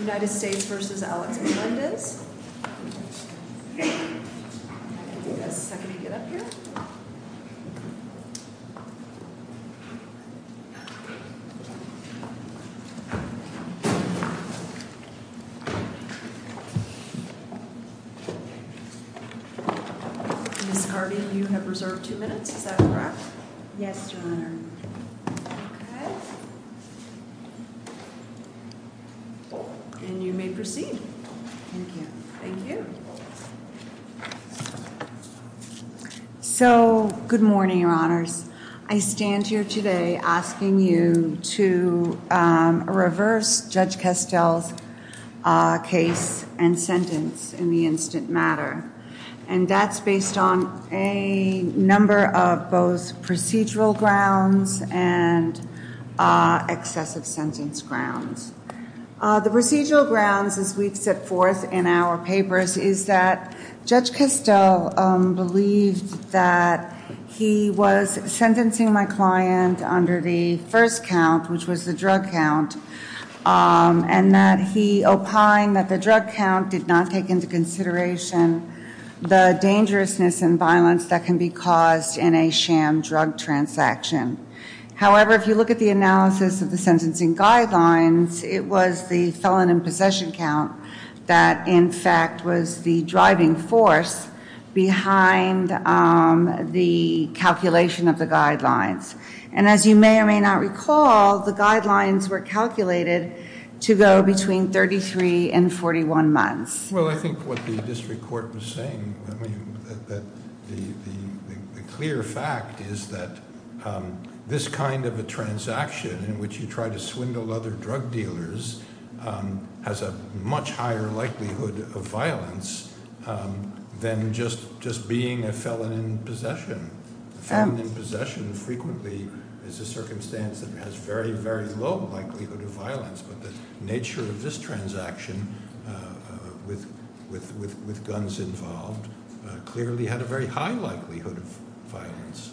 United States v. Alex Melendez Good morning, your honors. I stand here today asking you to reverse Judge Kestel's case and sentence in the instant matter, and that's based on a number of both procedural grounds and excessive sentence grounds. The procedural grounds, as we've set forth in our papers, is that Judge Kestel believed that he was sentencing my client under the first count, which was the drug count, and that he opined that the drug count did not take into consideration the dangerousness and violence that can be caused in a sham drug transaction. However, if you look at the analysis of the sentencing guidelines, it was the felon in possession count that, in fact, was the driving force behind the calculation of the guidelines. And as you may or may not recall, the guidelines were calculated to go between 33 and 41 months. Well, I think what the district court was saying, the clear fact is that this kind of a transaction in which you try to swindle other drug dealers has a much higher likelihood of violence than just being a felon in possession. A felon in possession frequently is a circumstance that has very, very low likelihood of violence, but the nature of this transaction with guns involved clearly had a very high likelihood of violence.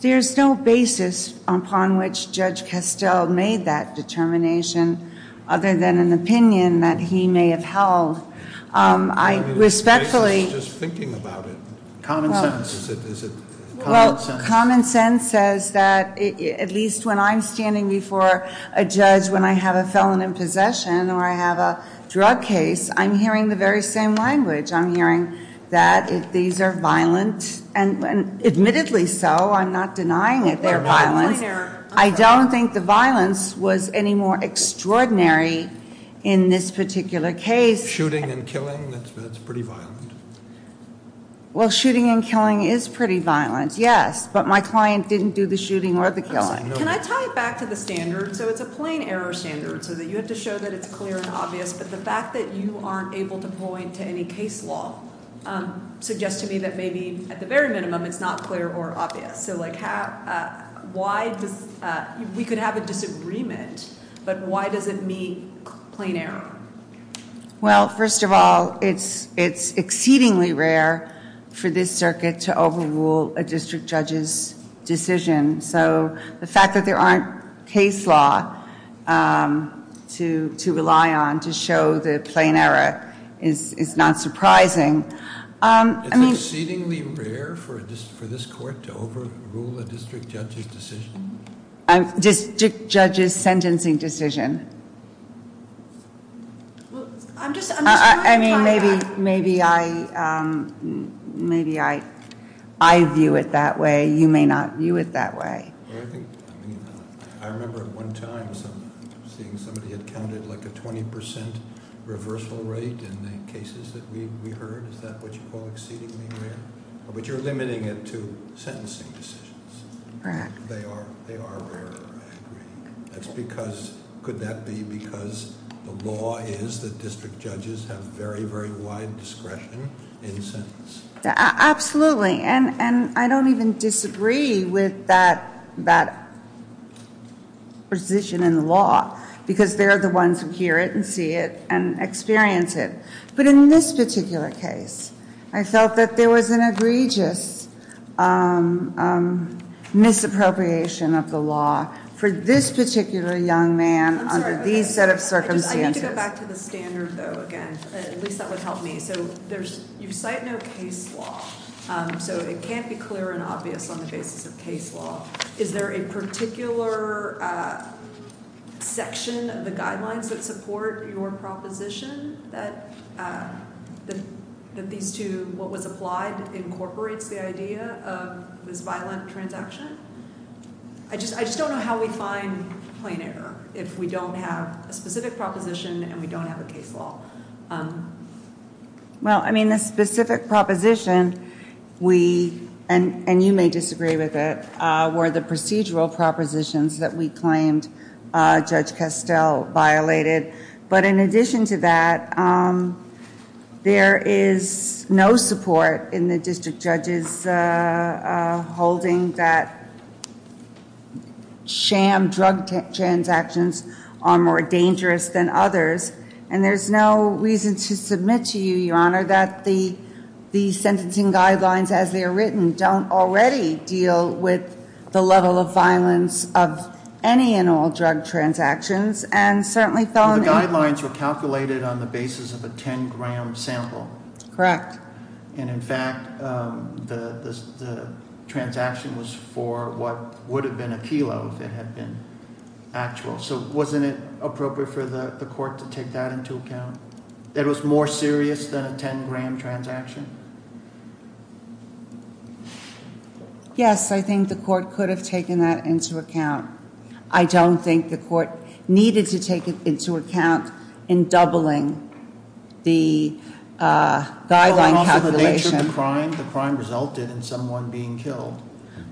There's no basis upon which Judge Kestel made that determination other than an opinion that he may have held. I respectfully- I was just thinking about it. Common sense. Is it common sense? Well, common sense says that, at least when I'm standing before a judge when I have a felon in possession or I have a drug case, I'm hearing the very same language. I'm hearing that these are violent, and admittedly so. I'm not denying that they're violent. I don't think the violence was any more extraordinary in this particular case. Shooting and killing? That's pretty violent. Well, shooting and killing is pretty violent, yes, but my client didn't do the shooting or the killing. Can I tie it back to the standard? So it's a plain error standard, so that you have to show that it's clear and obvious, but the fact that you aren't able to point to any case law suggests to me that maybe, at the very minimum, it's not clear or obvious. We could have a disagreement, but why does it mean plain error? Well, first of all, it's exceedingly rare for this circuit to overrule a district judge's decision. So the fact that there aren't case law to rely on to show the plain error is not surprising. It's exceedingly rare for this court to overrule a district judge's decision? District judge's sentencing decision. Well, I'm just wondering- I mean, maybe I view it that way. You may not view it that way. I remember at one time seeing somebody had counted like a 20% reversal rate in the cases that we heard. Is that what you call exceedingly rare? But you're limiting it to sentencing decisions. Correct. They are rarer, I agree. That's because, could that be because the law is that district judges have very, very wide discretion in sentence? Absolutely. And I don't even disagree with that position in the law, because they're the ones who hear it and see it and experience it. But in this particular case, I felt that there was an egregious misappropriation of the law for this particular young man under these set of circumstances. I need to go back to the standard, though, again. At least that would help me. You cite no case law, so it can't be clear and obvious on the basis of case law. Is there a particular section of the guidelines that support your proposition that these two, what was applied, incorporates the idea of this violent transaction? I just don't know how we find plain error if we don't have a specific proposition and we don't have a case law. Well, I mean, the specific proposition, and you may disagree with it, were the procedural propositions that we claimed Judge Castell violated. But in addition to that, there is no support in the district judges' holding that sham drug transactions are more dangerous than others. And there's no reason to submit to you, Your Honor, that the sentencing guidelines as they are written don't already deal with the level of violence of any and all drug transactions. The guidelines were calculated on the basis of a 10-gram sample. Correct. And in fact, the transaction was for what would have been a kilo if it had been actual. So wasn't it appropriate for the court to take that into account? That it was more serious than a 10-gram transaction? Yes, I think the court could have taken that into account. I don't think the court needed to take it into account in doubling the guideline calculation. Well, and also the nature of the crime, the crime resulted in someone being killed.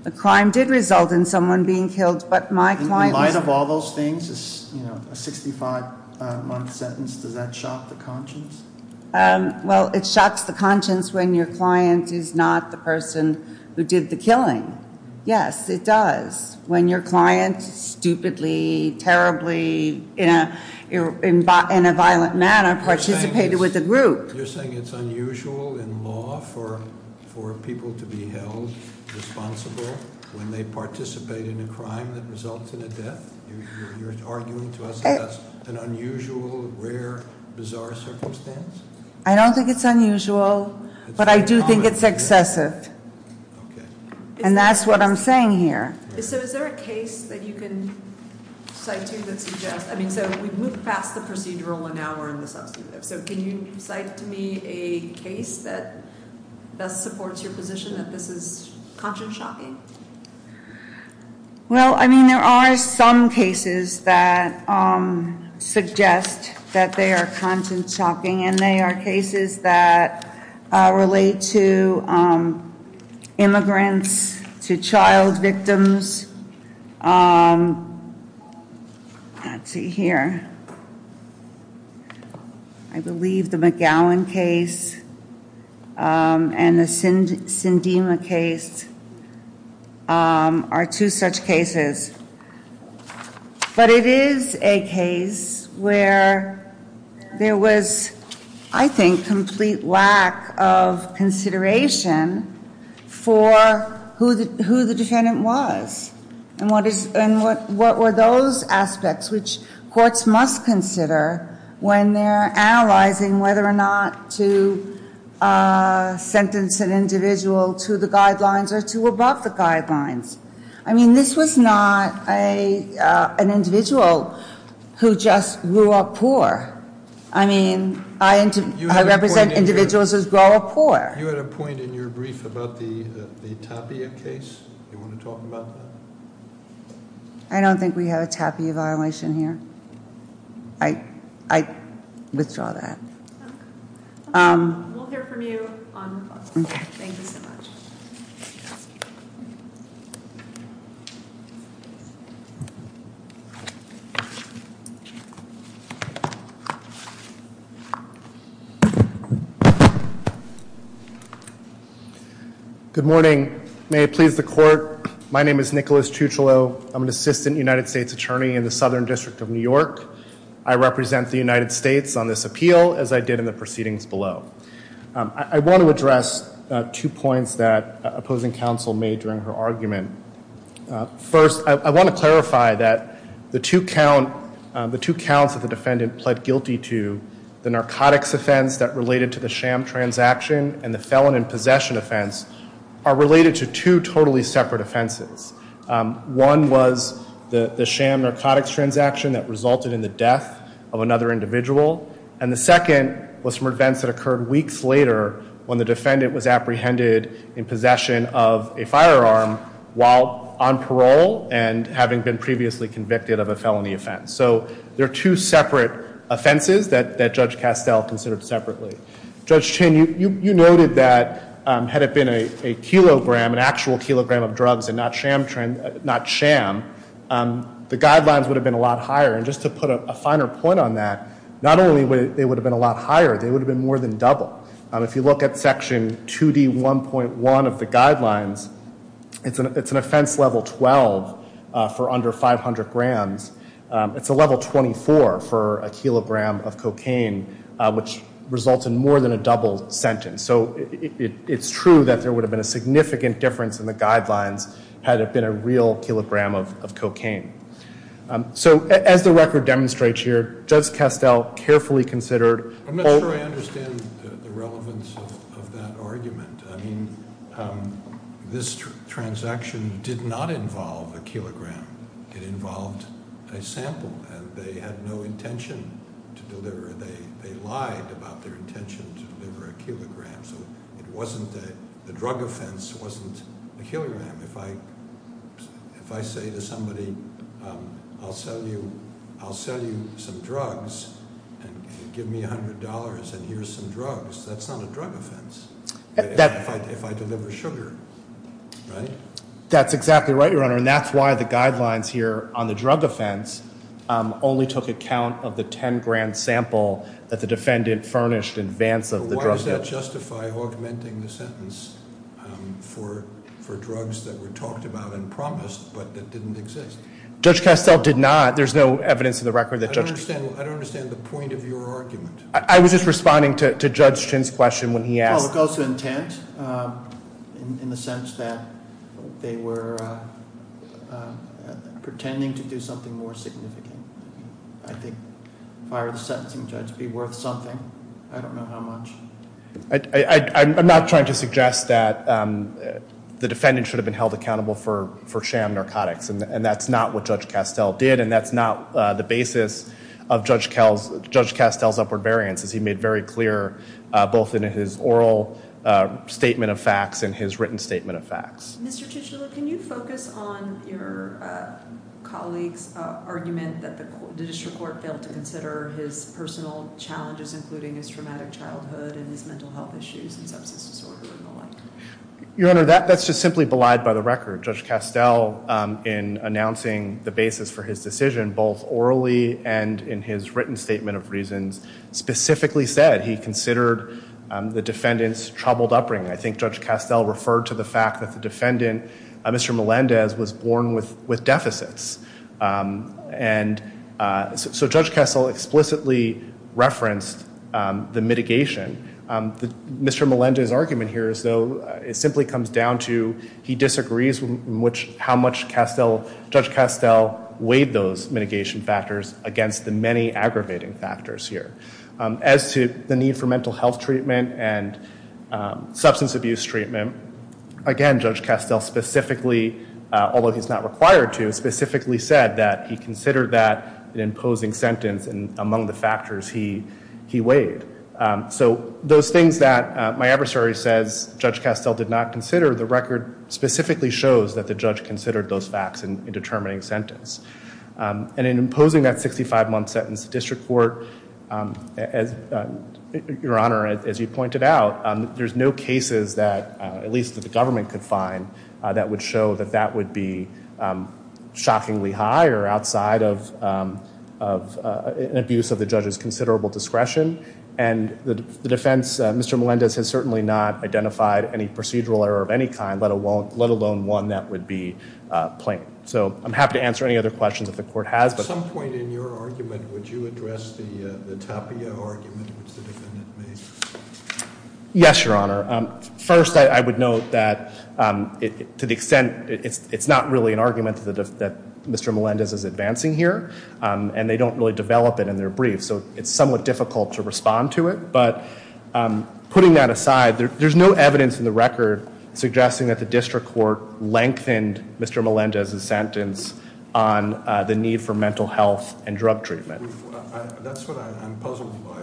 The crime did result in someone being killed, but my client was... In light of all those things, a 65-month sentence, does that shock the conscience? Well, it shocks the conscience when your client is not the person who did the killing. Yes, it does. When your client stupidly, terribly, in a violent manner participated with a group. You're saying it's unusual in law for people to be held responsible when they participate in a crime that results in a death? You're arguing to us that that's an unusual, rare, bizarre circumstance? I don't think it's unusual, but I do think it's excessive. Okay. And that's what I'm saying here. So is there a case that you can cite to that suggests... I mean, so we've moved past the procedural, and now we're in the substantive. So can you cite to me a case that best supports your position that this is conscience-shocking? Well, I mean, there are some cases that suggest that they are conscience-shocking, and they are cases that relate to immigrants, to child victims. Let's see here. I believe the McGowan case and the Sindema case are two such cases. But it is a case where there was, I think, complete lack of consideration for who the defendant was and what were those aspects which courts must consider when they're analyzing whether or not to sentence an individual to the guidelines or to above the guidelines. I mean, this was not an individual who just grew up poor. I mean, I represent individuals who grow up poor. You had a point in your brief about the Tapia case. Do you want to talk about that? I don't think we have a Tapia violation here. I withdraw that. We'll hear from you on... Okay. Thank you so much. Thank you. Good morning. May it please the court, my name is Nicholas Tucciolo. I'm an assistant United States attorney in the Southern District of New York. I represent the United States on this appeal, as I did in the proceedings below. I want to address two points that opposing counsel made during her argument. First, I want to clarify that the two counts that the defendant pled guilty to, the narcotics offense that related to the sham transaction and the felon in possession offense, are related to two totally separate offenses. One was the sham narcotics transaction that resulted in the death of another individual. And the second was from events that occurred weeks later when the defendant was apprehended in possession of a firearm while on parole and having been previously convicted of a felony offense. So they're two separate offenses that Judge Castell considered separately. Judge Chin, you noted that had it been a kilogram, an actual kilogram of drugs and not sham, the guidelines would have been a lot higher. And just to put a finer point on that, not only would they have been a lot higher, they would have been more than double. If you look at Section 2D1.1 of the guidelines, it's an offense level 12 for under 500 grams. It's a level 24 for a kilogram of cocaine, which results in more than a double sentence. So it's true that there would have been a significant difference in the guidelines had it been a real kilogram of cocaine. So as the record demonstrates here, Judge Castell carefully considered- I'm not sure I understand the relevance of that argument. I mean, this transaction did not involve a kilogram. It involved a sample, and they had no intention to deliver. They lied about their intention to deliver a kilogram. So the drug offense wasn't a kilogram. If I say to somebody, I'll sell you some drugs and give me $100 and here's some drugs, that's not a drug offense if I deliver sugar, right? That's exactly right, Your Honor, and that's why the guidelines here on the drug offense only took account of the 10 grand sample that the defendant furnished in advance of the drug offense. Does that justify augmenting the sentence for drugs that were talked about and promised, but that didn't exist? Judge Castell did not. There's no evidence in the record that Judge- I don't understand the point of your argument. I was just responding to Judge Chin's question when he asked- Well, it goes to intent in the sense that they were pretending to do something more significant. I think firing the sentencing judge would be worth something. I don't know how much. I'm not trying to suggest that the defendant should have been held accountable for sham narcotics, and that's not what Judge Castell did, and that's not the basis of Judge Castell's upward variance, as he made very clear both in his oral statement of facts and his written statement of facts. Mr. Chisholm, can you focus on your colleague's argument that the district court failed to consider his personal challenges, including his traumatic childhood and his mental health issues and substance disorder and the like? Your Honor, that's just simply belied by the record. Judge Castell, in announcing the basis for his decision both orally and in his written statement of reasons, specifically said he considered the defendant's troubled upbringing. I think Judge Castell referred to the fact that the defendant, Mr. Melendez, was born with deficits. And so Judge Castell explicitly referenced the mitigation. Mr. Melendez's argument here is, though, it simply comes down to he disagrees with how much Judge Castell weighed those mitigation factors against the many aggravating factors here. As to the need for mental health treatment and substance abuse treatment, again, Judge Castell specifically, although he's not required to, specifically said that he considered that an imposing sentence among the factors he weighed. So those things that my adversary says Judge Castell did not consider, the record specifically shows that the judge considered those facts in determining sentence. And in imposing that 65-month sentence, the district court, Your Honor, as you pointed out, there's no cases that, at least that the government could find, that would show that that would be shockingly high or outside of an abuse of the judge's considerable discretion. And the defense, Mr. Melendez has certainly not identified any procedural error of any kind, let alone one that would be plain. So I'm happy to answer any other questions that the court has. At some point in your argument, would you address the Tapia argument which the defendant made? Yes, Your Honor. First, I would note that to the extent it's not really an argument that Mr. Melendez is advancing here, and they don't really develop it in their brief, so it's somewhat difficult to respond to it. But putting that aside, there's no evidence in the record suggesting that the district court lengthened Mr. Melendez's sentence on the need for mental health and drug treatment. That's what I'm puzzled by.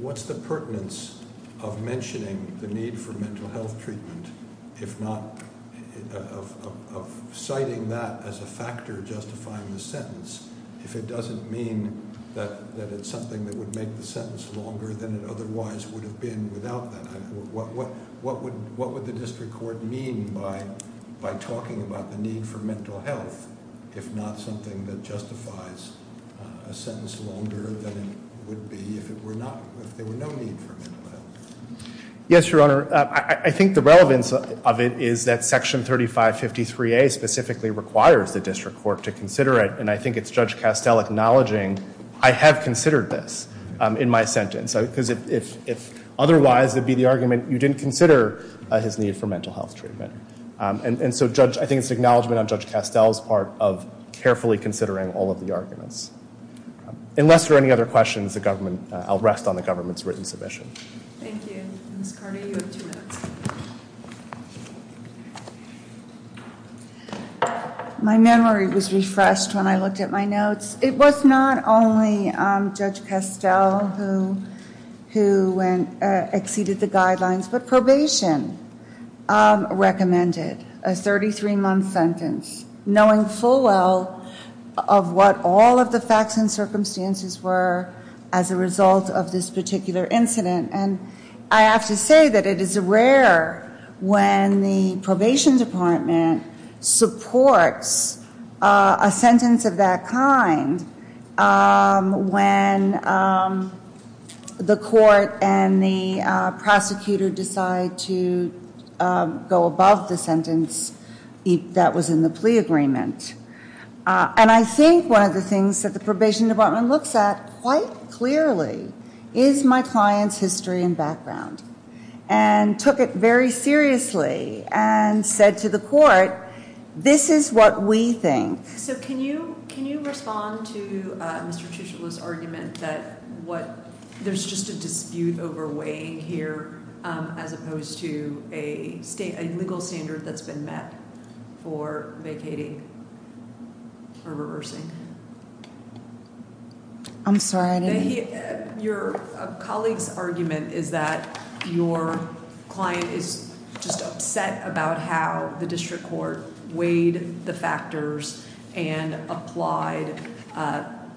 What's the pertinence of mentioning the need for mental health treatment, if not of citing that as a factor justifying the sentence, if it doesn't mean that it's something that would make the sentence longer than it otherwise would have been without that? What would the district court mean by talking about the need for mental health, if not something that justifies a sentence longer than it would be if there were no need for mental health? Yes, Your Honor. I think the relevance of it is that Section 3553A specifically requires the district court to consider it, and I think it's Judge Castell acknowledging I have considered this in my sentence. Because if otherwise it would be the argument, you didn't consider his need for mental health treatment. And so I think it's an acknowledgment on Judge Castell's part of carefully considering all of the arguments. Unless there are any other questions, I'll rest on the government's written submission. Thank you. Ms. Carty, you have two minutes. My memory was refreshed when I looked at my notes. It was not only Judge Castell who exceeded the guidelines, but probation recommended a 33-month sentence, knowing full well of what all of the facts and circumstances were as a result of this particular incident. And I have to say that it is rare when the probation department supports a sentence of that kind when the court and the prosecutor decide to go above the sentence that was in the plea agreement. And I think one of the things that the probation department looks at quite clearly is my client's history and background, and took it very seriously and said to the court, this is what we think. So can you respond to Mr. Tuchel's argument that there's just a dispute over weighing here as opposed to a legal standard that's been met for vacating or reversing? I'm sorry, I didn't... And applied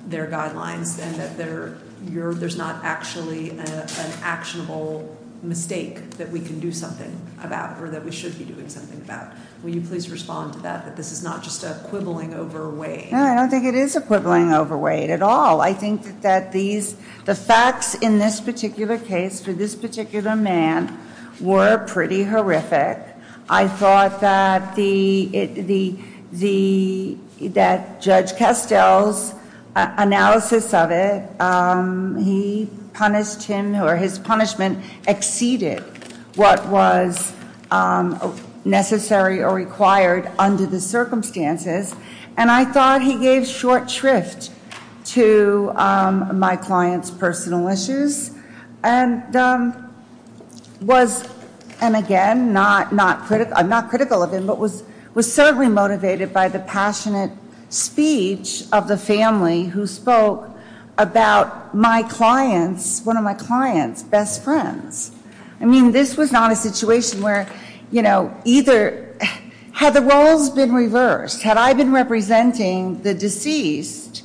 their guidelines and that there's not actually an actionable mistake that we can do something about or that we should be doing something about. Will you please respond to that, that this is not just a quibbling over weight? No, I don't think it is a quibbling over weight at all. I think that the facts in this particular case for this particular man were pretty horrific. I thought that Judge Castell's analysis of it, he punished him, or his punishment, exceeded what was necessary or required under the circumstances. And I thought he gave short shrift to my client's personal issues and was, and again, I'm not critical of him, but was certainly motivated by the passionate speech of the family who spoke about my client's, one of my client's, best friends. I mean, this was not a situation where, you know, either, had the roles been reversed, had I been representing the deceased,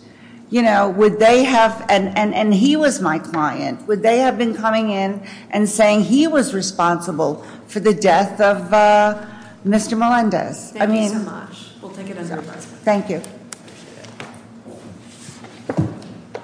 you know, would they have, and he was my client, would they have been coming in and saying he was responsible for the death of Mr. Melendez? Thank you so much. We'll take it as a recommendation. Thank you.